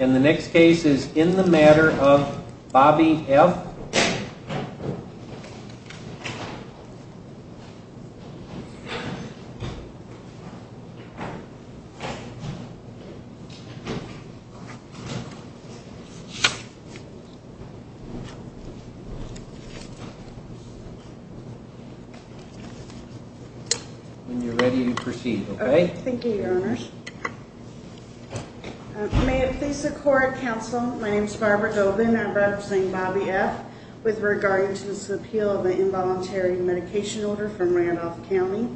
And the next case is In the Matter of Bobby F. And you're ready to proceed, okay? Okay, thank you, Your Honors. May it please the Court, Counsel. My name is Barbara Dobin, and I'm representing Bobby F. With regard to this appeal of the involuntary medication order from Randolph County.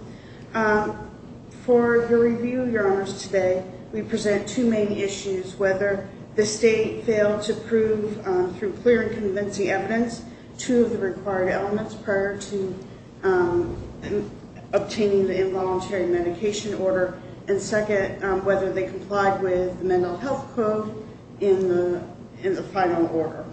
For the review, Your Honors, today, we present two main issues. Whether the state failed to prove, through clear and convincing evidence, two of the required elements prior to obtaining the involuntary medication order. And second, whether they complied with the mental health code in the final order.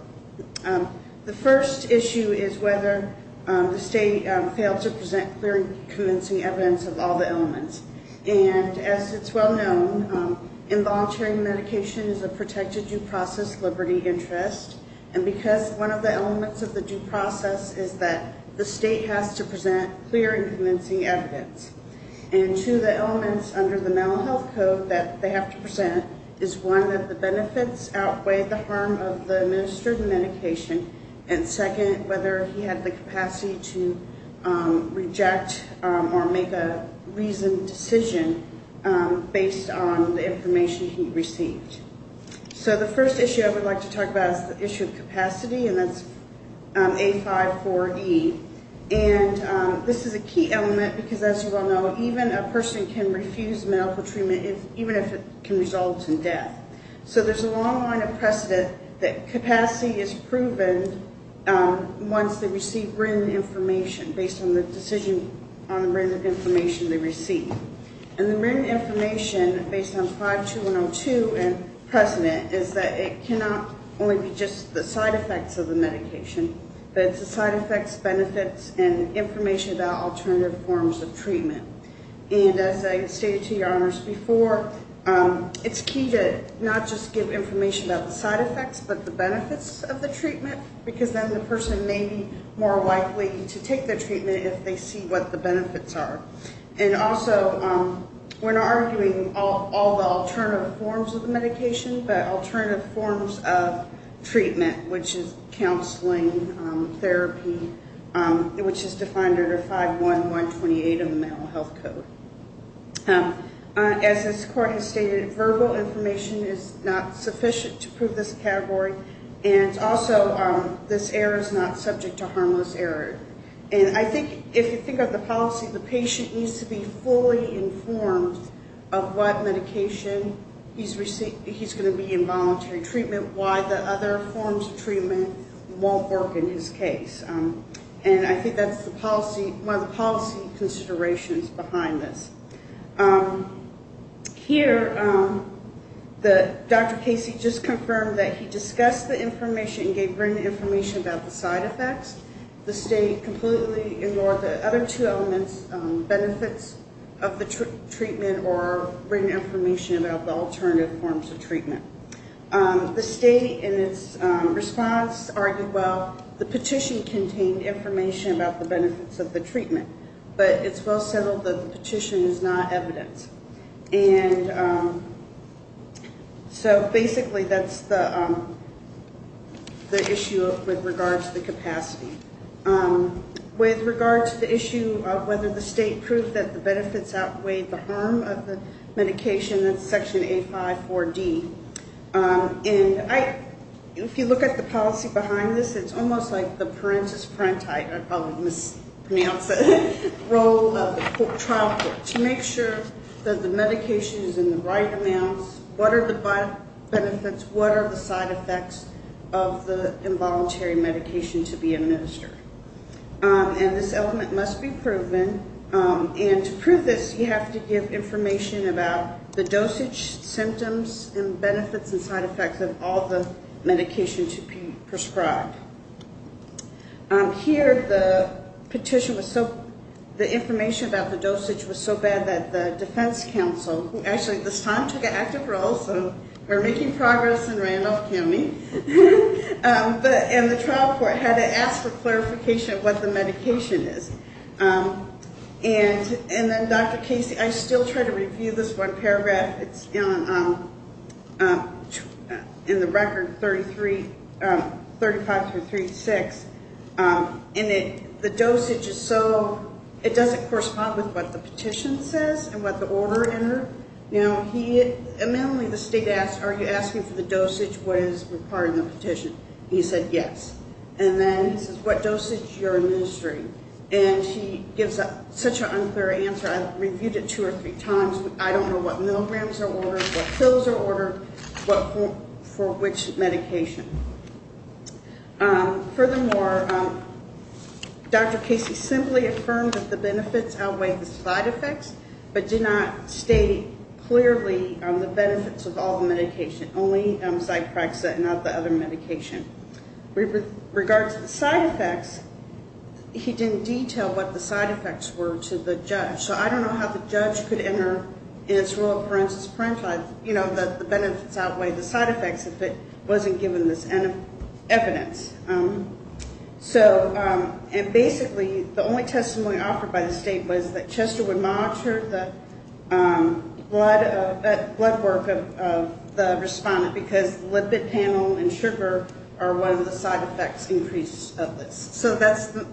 The first issue is whether the state failed to present clear and convincing evidence of all the elements. And as it's well known, involuntary medication is a protected due process liberty interest. And because one of the elements of the due process is that the state has to present clear and convincing evidence. And two of the elements under the mental health code that they have to present is, one, that the benefits outweigh the harm of the administered medication. And second, whether he had the capacity to reject or make a reasoned decision based on the information he received. So the first issue I would like to talk about is the issue of capacity, and that's A-5-4-E. And this is a key element, because as you well know, even a person can refuse medical treatment, even if it can result in death. So there's a long line of precedent that capacity is proven once they receive written information, based on the decision on the written information they receive. And the written information, based on 5-2-1-0-2 and precedent, is that it cannot only be just the side effects of the medication. But it's the side effects, benefits, and information about alternative forms of treatment. And as I stated to your honors before, it's key to not just give information about the side effects, but the benefits of the treatment. Because then the person may be more likely to take the treatment if they see what the benefits are. And also, we're not arguing all the alternative forms of the medication, but alternative forms of treatment, which is counseling, therapy, which is defined under 5-1-1-28 of the Mental Health Code. As this court has stated, verbal information is not sufficient to prove this category. And also, this error is not subject to harmless error. And I think if you think of the policy, the patient needs to be fully informed of what medication he's going to be in voluntary treatment, why the other forms of treatment won't work in his case. And I think that's one of the policy considerations behind this. Here, Dr. Casey just confirmed that he discussed the information and gave written information about the side effects. The state completely ignored the other two elements, benefits of the treatment or written information about the alternative forms of treatment. The state in its response argued, well, the petition contained information about the benefits of the treatment, but it's well settled that the petition is not evidence. And so basically, that's the issue with regards to the capacity. With regards to the issue of whether the state proved that the benefits outweighed the harm of the medication, that's Section A5-4D. And if you look at the policy behind this, it's almost like the parentis-parenti, I probably mispronounced that, role of the trial court to make sure that the medication is in the right amounts, what are the benefits, what are the side effects of the involuntary medication to be administered. And this element must be proven. And to prove this, you have to give information about the dosage, symptoms, and benefits and side effects of all the medication to be prescribed. Here, the information about the dosage was so bad that the defense counsel, who actually at this time took an active role, so we're making progress in Randolph County, and the trial court had to ask for clarification of what the medication is. And then, Dr. Casey, I still try to review this one paragraph. It's in the record 35-36. And the dosage is so, it doesn't correspond with what the petition says and what the order entered. You know, he, mainly the state asked, are you asking for the dosage, what is required in the petition? He said yes. And then he says, what dosage are you administering? And he gives such an unclear answer. I've reviewed it two or three times. I don't know what milligrams are ordered, what pills are ordered, for which medication. Furthermore, Dr. Casey simply affirmed that the benefits outweigh the side effects, but did not state clearly the benefits of all the medication, only Zyprexa and not the other medication. With regard to the side effects, he didn't detail what the side effects were to the judge. So I don't know how the judge could enter in its rule of parenthesis, parenthesis, you know, that the benefits outweigh the side effects if it wasn't given this evidence. So, and basically, the only testimony offered by the state was that Chester would monitor the blood work of the respondent because lipid panel and sugar are one of the side effects increase of this. So that's the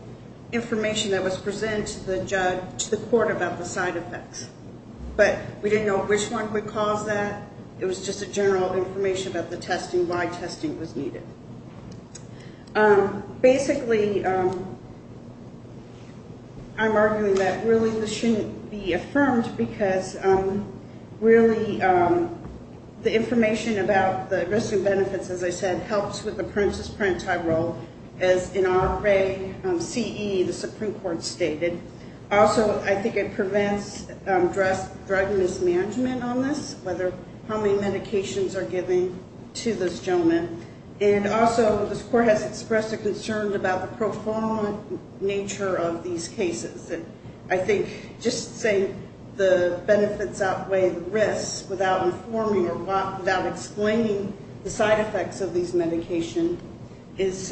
information that was presented to the court about the side effects. But we didn't know which one would cause that. It was just a general information about the testing, why testing was needed. Basically, I'm arguing that really this shouldn't be affirmed because really the information about the risk and benefits, as I said, helps with the parenthesis-parentheti role as in RA-CE, the Supreme Court stated. Also, I think it prevents drug mismanagement on this, whether how many medications are given to this gentleman. And also, this court has expressed a concern about the pro-form nature of these cases. I think just saying the benefits outweigh the risks without informing or without explaining the side effects of these medications is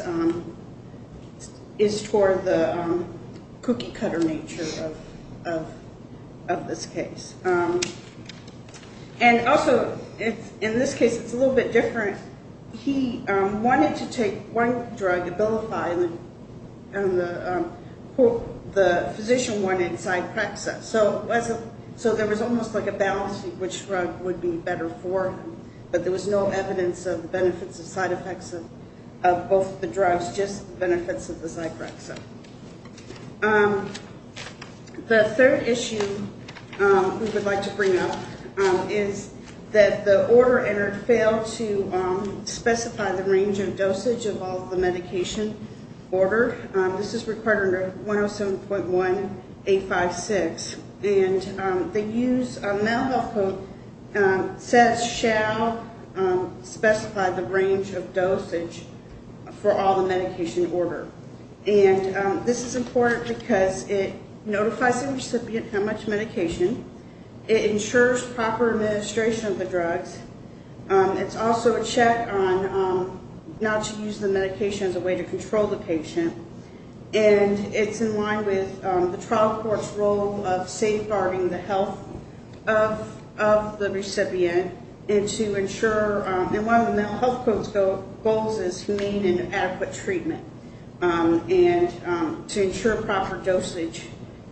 toward the cookie-cutter nature of this case. And also, in this case, it's a little bit different. He wanted to take one drug, Abilify, and the physician wanted Zyprexa. So there was almost like a balance of which drug would be better for him. But there was no evidence of benefits or side effects of both the drugs, just benefits of the Zyprexa. The third issue we would like to bring up is that the order entered failed to specify the range of dosage of all the medication order. This is required under 107.1856. And the use of mental health code says shall specify the range of dosage for all the medication order. And this is important because it notifies the recipient how much medication. It ensures proper administration of the drugs. It's also a check on not to use the medication as a way to control the patient. And it's in line with the trial court's role of safeguarding the health of the recipient and to ensure, and one of the mental health code's goals is humane and adequate treatment. And to ensure proper dosage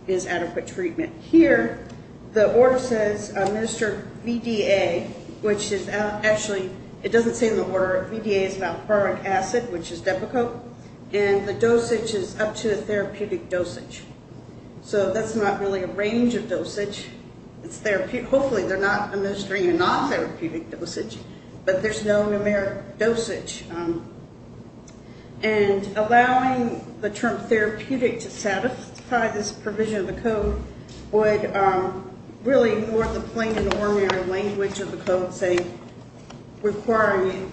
is adequate treatment. Here, the order says administer VDA, which is actually, it doesn't say in the order. VDA is Valproic acid, which is Depakote. And the dosage is up to a therapeutic dosage. So that's not really a range of dosage. Hopefully they're not administering a non-therapeutic dosage, but there's no numeric dosage. And allowing the term therapeutic to satisfy this provision of the code would really more the plain and ordinary language of the code say requiring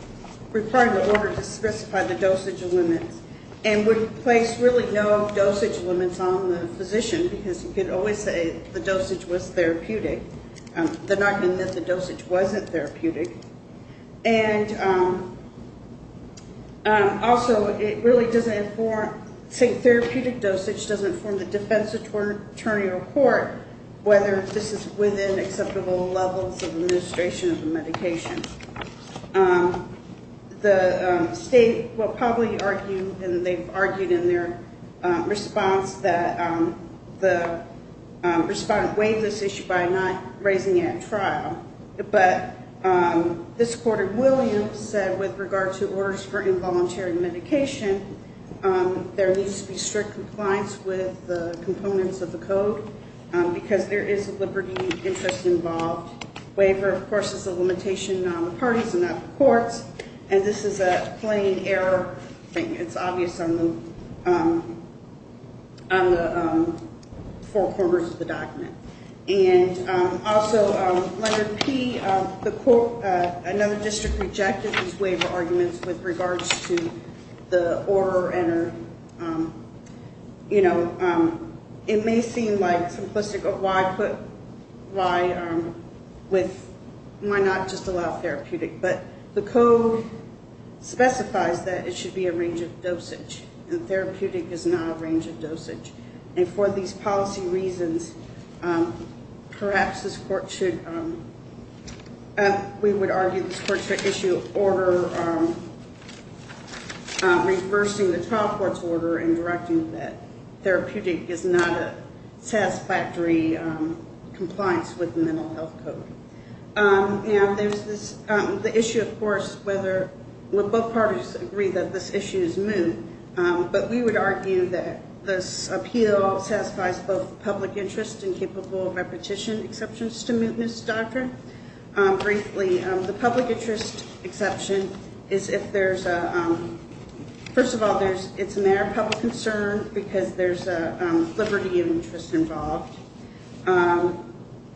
the order to specify the dosage limits. And would place really no dosage limits on the physician because you could always say the dosage was therapeutic. They're not going to admit the dosage wasn't therapeutic. And also it really doesn't inform, say therapeutic dosage doesn't inform the defense attorney or court whether this is within acceptable levels of administration of the medication. The state will probably argue, and they've argued in their response, that the respondent waived this issue by not raising it at trial. But this court in Williams said with regard to orders for involuntary medication, there needs to be strict compliance with the components of the code because there is a liberty interest involved. Waiver, of course, is a limitation on the parties and not the courts. And this is a plain error thing. It's obvious on the four corners of the document. And also, letter P, another district rejected these waiver arguments with regards to the order. It may seem simplistic. Why not just allow therapeutic? But the code specifies that it should be a range of dosage. And therapeutic is not a range of dosage. And for these policy reasons, perhaps this court should, we would argue this court should issue an order reversing the trial court's order and directing that therapeutic is not a satisfactory compliance with the mental health code. And there's this, the issue, of course, whether, well both parties agree that this issue is moot. But we would argue that this appeal satisfies both the public interest and capable repetition exceptions to mootness doctrine. Briefly, the public interest exception is if there's a, first of all, it's a matter of public concern because there's a liberty of interest involved.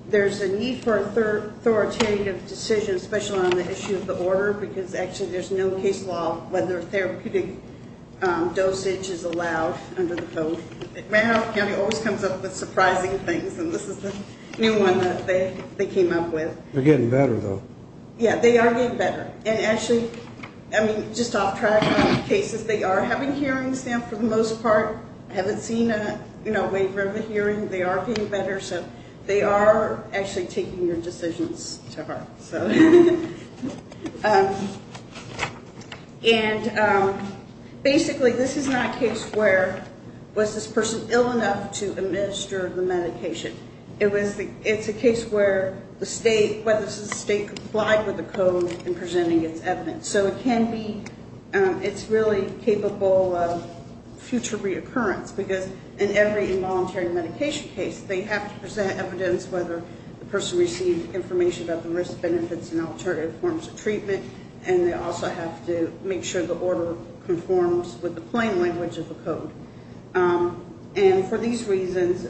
There's a need for authoritative decisions, especially on the issue of the order, because actually there's no case law whether therapeutic dosage is allowed under the code. Manhoff County always comes up with surprising things, and this is the new one that they came up with. They're getting better, though. Yeah, they are getting better. And actually, I mean, just off track on cases, they are having hearings now for the most part. I haven't seen a waiver of a hearing. They are getting better. So they are actually taking your decisions to heart. And basically this is not a case where was this person ill enough to administer the medication. It's a case where the state, whether this is the state, complied with the code in presenting its evidence. So it can be, it's really capable of future reoccurrence because in every involuntary medication case, they have to present evidence whether the person received information about the risks, benefits, and alternative forms of treatment, and they also have to make sure the order conforms with the plain language of the code. And for these reasons,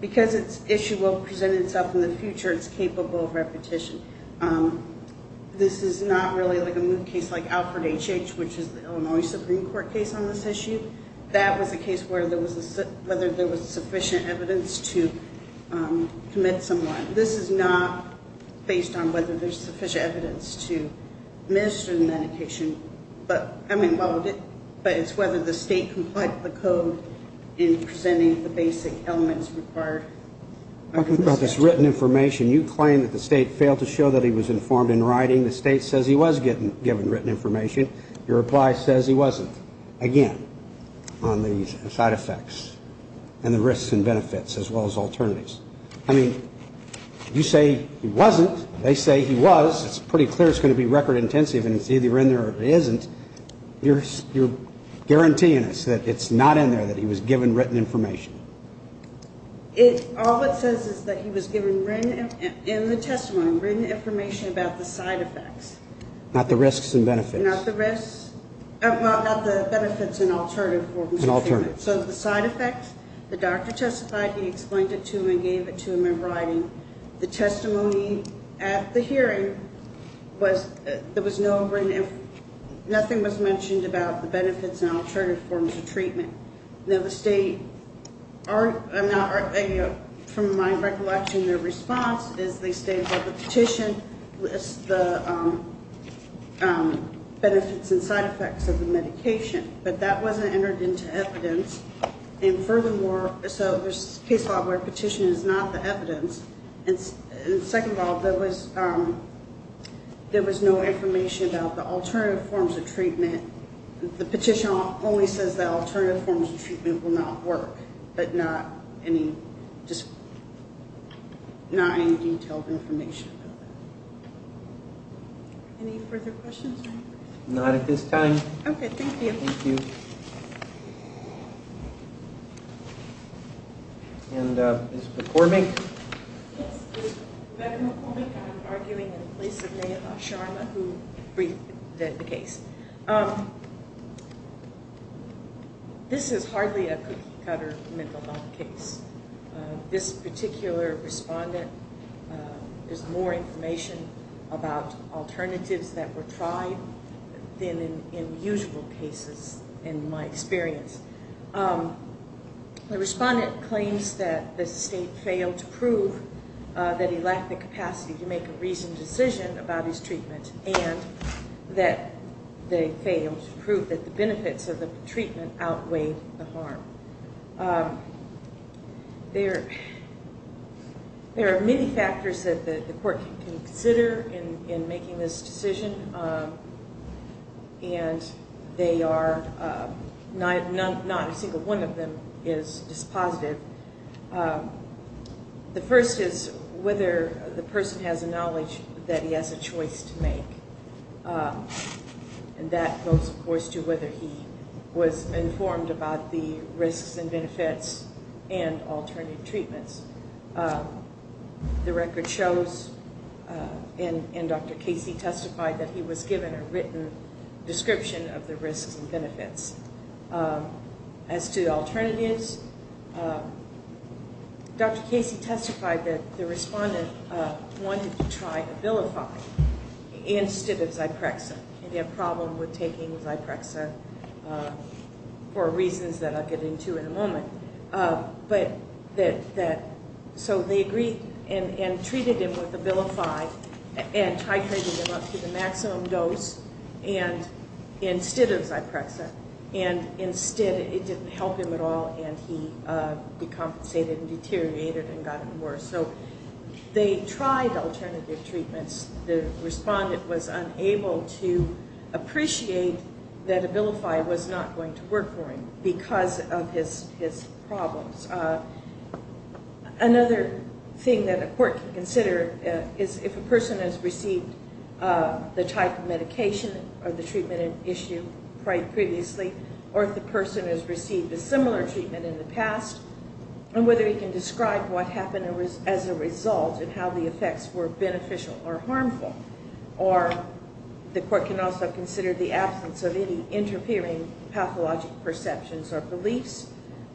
because it's issue will present itself in the future, it's capable of repetition. This is not really like a new case like Alfred H.H., which is the Illinois Supreme Court case on this issue. That was a case where there was, whether there was sufficient evidence to commit someone. This is not based on whether there's sufficient evidence to administer the medication. But, I mean, but it's whether the state complied with the code in presenting the basic elements required. Talking about this written information, you claim that the state failed to show that he was informed in writing. The state says he was given written information. Your reply says he wasn't, again, on the side effects and the risks and benefits as well as alternatives. I mean, you say he wasn't. They say he was. It's pretty clear it's going to be record intensive, and it's either in there or it isn't. You're guaranteeing us that it's not in there, that he was given written information. All it says is that he was given written, in the testimony, written information about the side effects. Not the risks and benefits. Not the risks, well, not the benefits and alternative forms of treatment. So the side effects, the doctor testified, he explained it to him and gave it to him in writing. The testimony at the hearing was, there was no written, nothing was mentioned about the benefits and alternative forms of treatment. Now the state, from my recollection, their response is they stated that the petition lists the benefits and side effects of the medication. But that wasn't entered into evidence. And furthermore, so there's case law where petition is not the evidence. And second of all, there was no information about the alternative forms of treatment. The petition only says that alternative forms of treatment will not work. But not any, just, not any detailed information about it. Any further questions? Not at this time. Okay, thank you. Thank you. And Ms. McCormick? Yes, Rebecca McCormick, I'm arguing in place of Neha Sharma who briefed the case. This is hardly a cookie cutter mental health case. This particular respondent, there's more information about alternatives that were tried than in usual cases in my experience. The respondent claims that the state failed to prove that he lacked the capacity to make a reasoned decision about his treatment. And that they failed to prove that the benefits of the treatment outweighed the harm. There are many factors that the court can consider in making this decision. And they are, not a single one of them is dispositive. The first is whether the person has a knowledge that he has a choice to make. And that goes, of course, to whether he was informed about the risks and benefits and alternative treatments. The record shows, and Dr. Casey testified, that he was given a written description of the risks and benefits. As to alternatives, Dr. Casey testified that the respondent wanted to try Abilify instead of Zyprexa. And he had a problem with taking Zyprexa for reasons that I'll get into in a moment. So they agreed and treated him with Abilify and titrated him up to the maximum dose instead of Zyprexa. And instead it didn't help him at all and he decompensated and deteriorated and got worse. So they tried alternative treatments. The respondent was unable to appreciate that Abilify was not going to work for him because of his problems. Another thing that a court can consider is if a person has received the type of medication or the treatment issued previously. Or if the person has received a similar treatment in the past. And whether he can describe what happened as a result and how the effects were beneficial or harmful. Or the court can also consider the absence of any interfering pathologic perceptions or beliefs.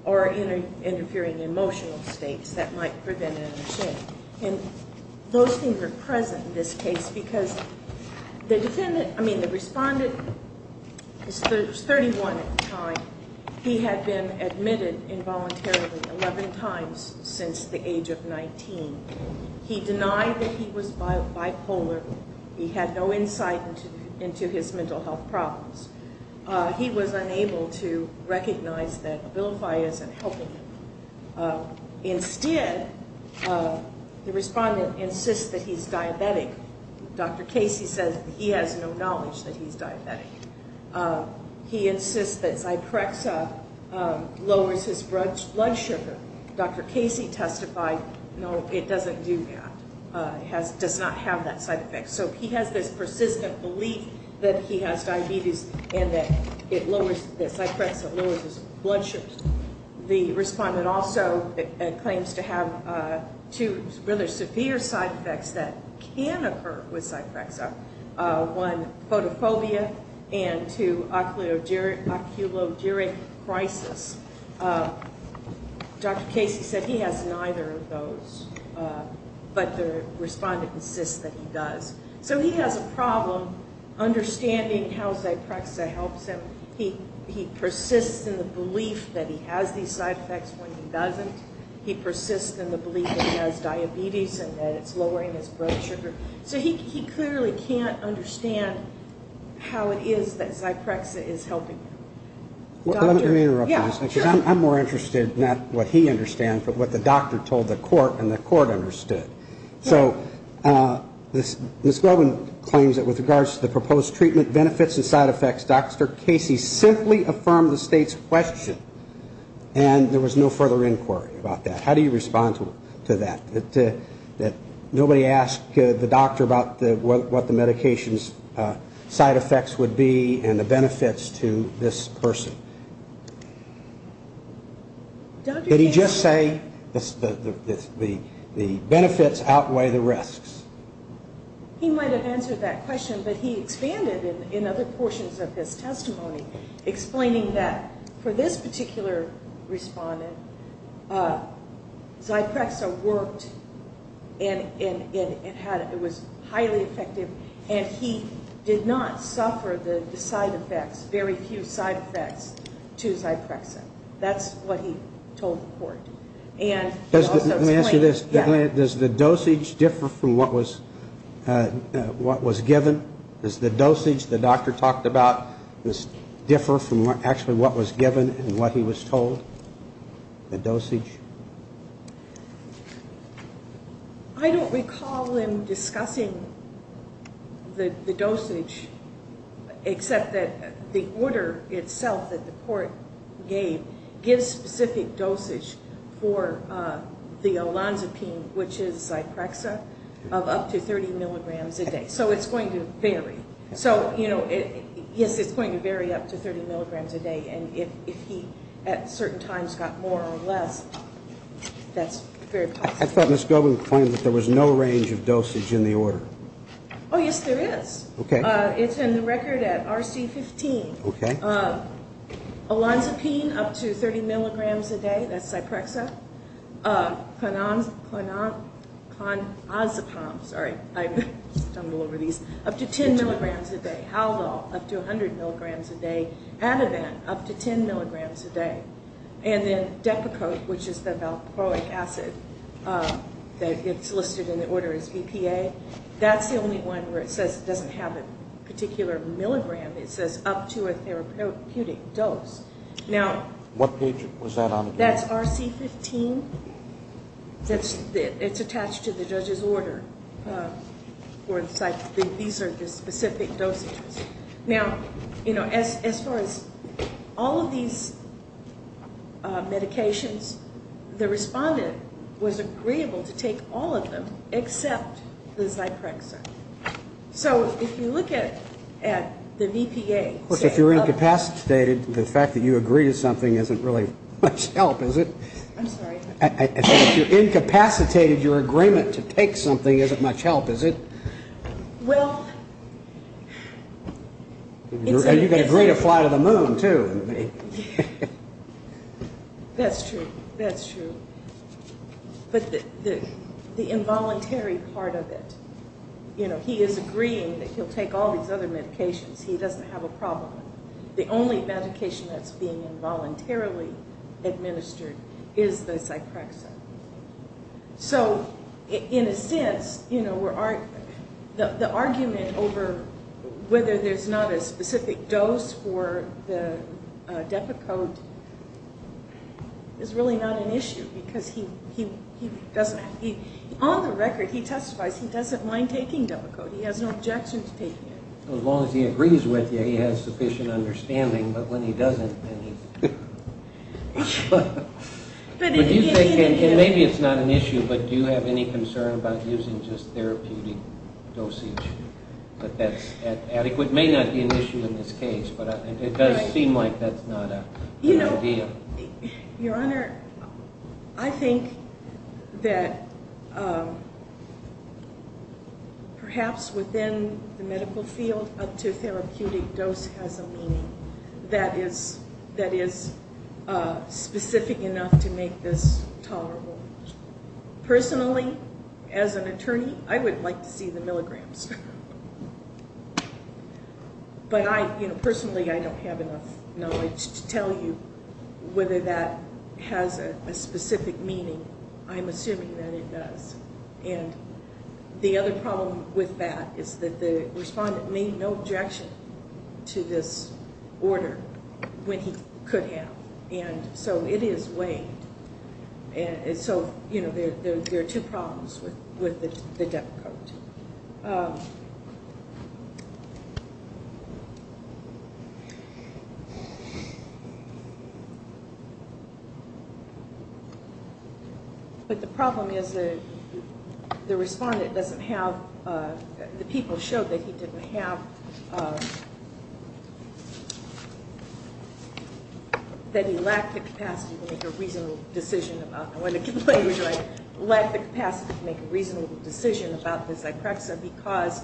Or interfering emotional states that might prevent an understanding. And those things are present in this case because the respondent was 31 at the time. He had been admitted involuntarily 11 times since the age of 19. He denied that he was bipolar. He had no insight into his mental health problems. He was unable to recognize that Abilify isn't helping him. Instead, the respondent insists that he's diabetic. Dr. Casey says that he has no knowledge that he's diabetic. He insists that Zyprexa lowers his blood sugar. Dr. Casey testified, no, it doesn't do that. It does not have that side effect. So he has this persistent belief that he has diabetes and that Zyprexa lowers his blood sugar. The respondent also claims to have two rather severe side effects that can occur with Zyprexa. One, photophobia. And two, oculoduric crisis. Dr. Casey said he has neither of those. But the respondent insists that he does. So he has a problem understanding how Zyprexa helps him. He persists in the belief that he has these side effects when he doesn't. He persists in the belief that he has diabetes and that it's lowering his blood sugar. So he clearly can't understand how it is that Zyprexa is helping him. Let me interrupt you. I'm more interested in not what he understands, but what the doctor told the court and the court understood. So Ms. Globin claims that with regards to the proposed treatment benefits and side effects, Dr. Casey simply affirmed the state's question and there was no further inquiry about that. How do you respond to that? Nobody asked the doctor about what the medication's side effects would be and the benefits to this person. Did he just say the benefits outweigh the risks? He might have answered that question, but he expanded in other portions of his testimony, explaining that for this particular respondent, Zyprexa worked and it was highly effective and he did not suffer the side effects, very few side effects to Zyprexa. That's what he told the court. Let me ask you this. Does the dosage differ from what was given? Does the dosage the doctor talked about differ from actually what was given and what he was told, the dosage? I don't recall him discussing the dosage, except that the order itself that the court gave gives specific dosage for the Olanzapine, which is Zyprexa, of up to 30 milligrams a day. So it's going to vary. Yes, it's going to vary up to 30 milligrams a day and if he at certain times got more or less, that's very possible. I thought Ms. Gobin claimed that there was no range of dosage in the order. Oh, yes, there is. It's in the record at RC15. Olanzapine, up to 30 milligrams a day, that's Zyprexa. Clonazepam, sorry, I stumble over these, up to 10 milligrams a day. Haldol, up to 100 milligrams a day. Ativan, up to 10 milligrams a day. And then Depakote, which is the valproic acid that gets listed in the order as BPA. That's the only one where it says it doesn't have a particular milligram. It says up to a therapeutic dose. What page was that on again? That's RC15. It's attached to the judge's order. These are the specific dosages. Now, you know, as far as all of these medications, the respondent was agreeable to take all of them except the Zyprexa. So if you look at the BPA. Of course, if you're incapacitated, the fact that you agree to something isn't really much help, is it? I'm sorry. If you're incapacitated, your agreement to take something isn't much help, is it? Well. You can agree to fly to the moon, too. That's true. That's true. But the involuntary part of it, you know, he is agreeing that he'll take all these other medications. He doesn't have a problem. The only medication that's being involuntarily administered is the Zyprexa. So in a sense, you know, the argument over whether there's not a specific dose for the Depakote is really not an issue because he doesn't have to. On the record, he testifies he doesn't mind taking Depakote. He has no objection to taking it. As long as he agrees with you, he has sufficient understanding. But when he doesn't, then he's... But do you think, and maybe it's not an issue, but do you have any concern about using just therapeutic dosage? But that's adequate. It may not be an issue in this case, but it does seem like that's not a good idea. Your Honor, I think that perhaps within the medical field, up to therapeutic dose has a meaning that is specific enough to make this tolerable. Personally, as an attorney, I would like to see the milligrams. But personally, I don't have enough knowledge to tell you whether that has a specific meaning. I'm assuming that it does. And the other problem with that is that the respondent made no objection to this order when he could have. And so it is weighed. And so, you know, there are two problems with the Depakote. But the problem is that the respondent doesn't have... The people showed that he didn't have... Let the capacity to make a reasonable decision about the Zyprexa because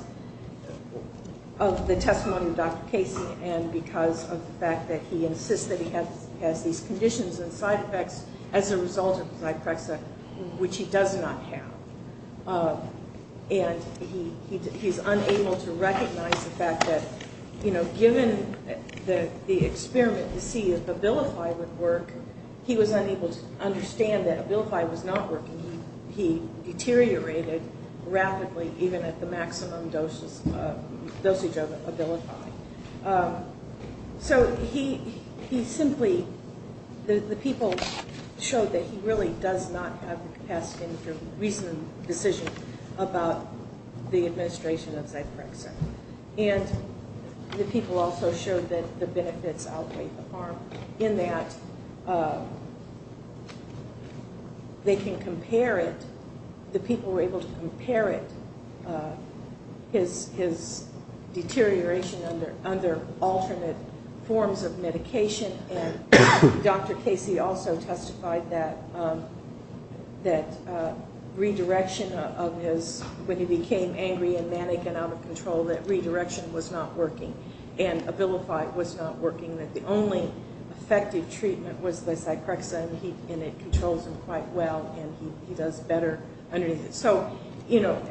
of the testimony of Dr. Casey and because of the fact that he insists that he has these conditions and side effects as a result of Zyprexa, which he does not have. And he's unable to recognize the fact that, you know, given the experiment to see if Abilify would work, he was unable to understand that Abilify was not working. He deteriorated rapidly even at the maximum dosage of Abilify. So he simply... The people showed that he really does not have the capacity to make a reasonable decision about the administration of Zyprexa. And the people also showed that the benefits outweigh the harm in that they can compare it. The people were able to compare it, his deterioration under alternate forms of medication. And Dr. Casey also testified that redirection of his, when he became angry and manic and out of control, that redirection was not working and Abilify was not working, that the only effective treatment was the Zyprexa and it controls him quite well and he does better underneath it. So, you know,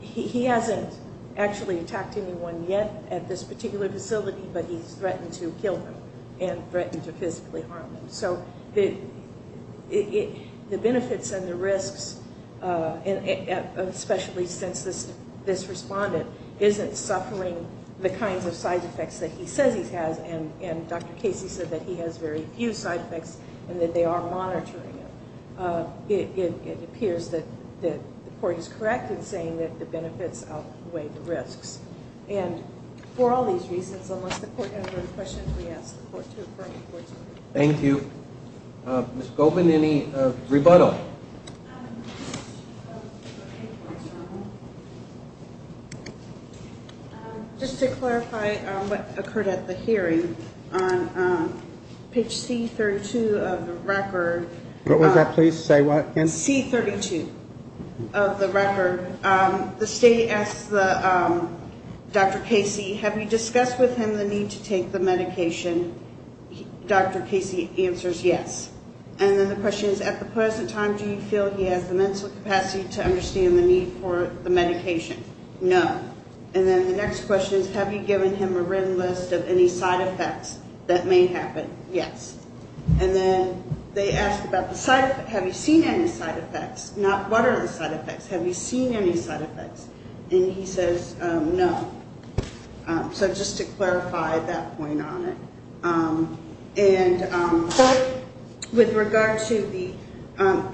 he hasn't actually attacked anyone yet at this particular facility, but he's threatened to kill them and threatened to physically harm them. So the benefits and the risks, especially since this respondent isn't suffering the kinds of side effects that he says he has and Dr. Casey said that he has very few side effects and that they are monitoring him, it appears that the court is correct in saying that the benefits outweigh the risks. And for all these reasons, unless the court has other questions, we ask the court to approve the court's ruling. Thank you. Ms. Goldman, any rebuttal? Just to clarify what occurred at the hearing on page C32 of the record. What was that, please? Say what again? C32 of the record. The state asks Dr. Casey, have you discussed with him the need to take the medication? Dr. Casey answers yes. And then the question is, at the present time, do you feel he has the mental capacity to understand the need for the medication? No. And then the next question is, have you given him a written list of any side effects that may happen? Yes. And then they ask about the side effects. Have you seen any side effects? Not what are the side effects. Have you seen any side effects? And he says no. So just to clarify that point on it. And with regard to the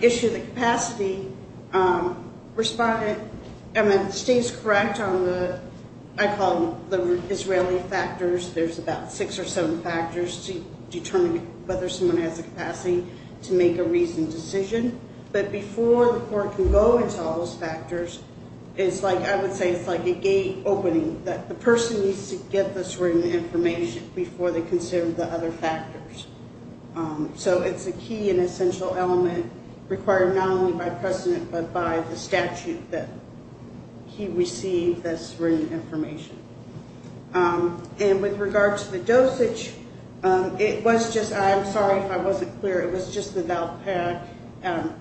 issue of the capacity, the state is correct on what I call the Israeli factors. There's about six or seven factors to determine whether someone has the capacity to make a reasoned decision. But before the court can go into all those factors, I would say it's like a gate opening. That the person needs to get this written information before they consider the other factors. So it's a key and essential element required not only by precedent but by the statute that he receive this written information. And with regard to the dosage, it was just the Valparaiso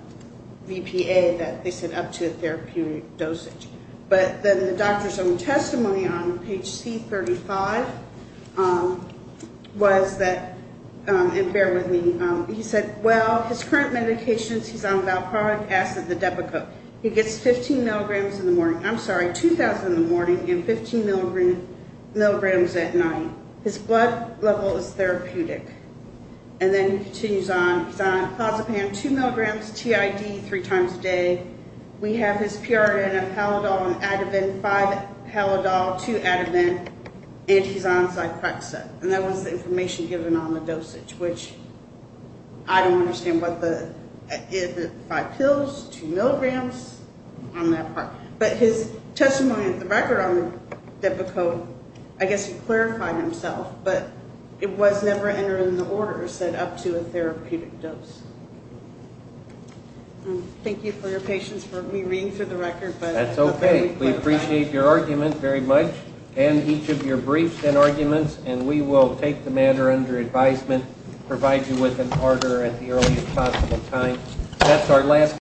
VPA that they said up to a therapeutic dosage. But then the doctor's own testimony on page C35 was that, and bear with me. He said, well, his current medications, he's on valproic acid, the Depakote. He gets 15 milligrams in the morning, I'm sorry, 2,000 in the morning and 15 milligrams at night. His blood level is therapeutic. And then he continues on. He's on Clozapam, 2 milligrams, TID three times a day. We have his PRN of Halodol and Ativan, five Halodol, two Ativan, and he's on Zyprexa. And that was the information given on the dosage, which I don't understand what the, five pills, two milligrams, on that part. But his testimony at the record on Depakote, I guess he clarified himself. But it was never entered in the order, said up to a therapeutic dose. Thank you for your patience for me reading through the record. That's okay. We appreciate your argument very much and each of your briefs and arguments. And we will take the matter under advisement, provide you with an order at the earliest possible time.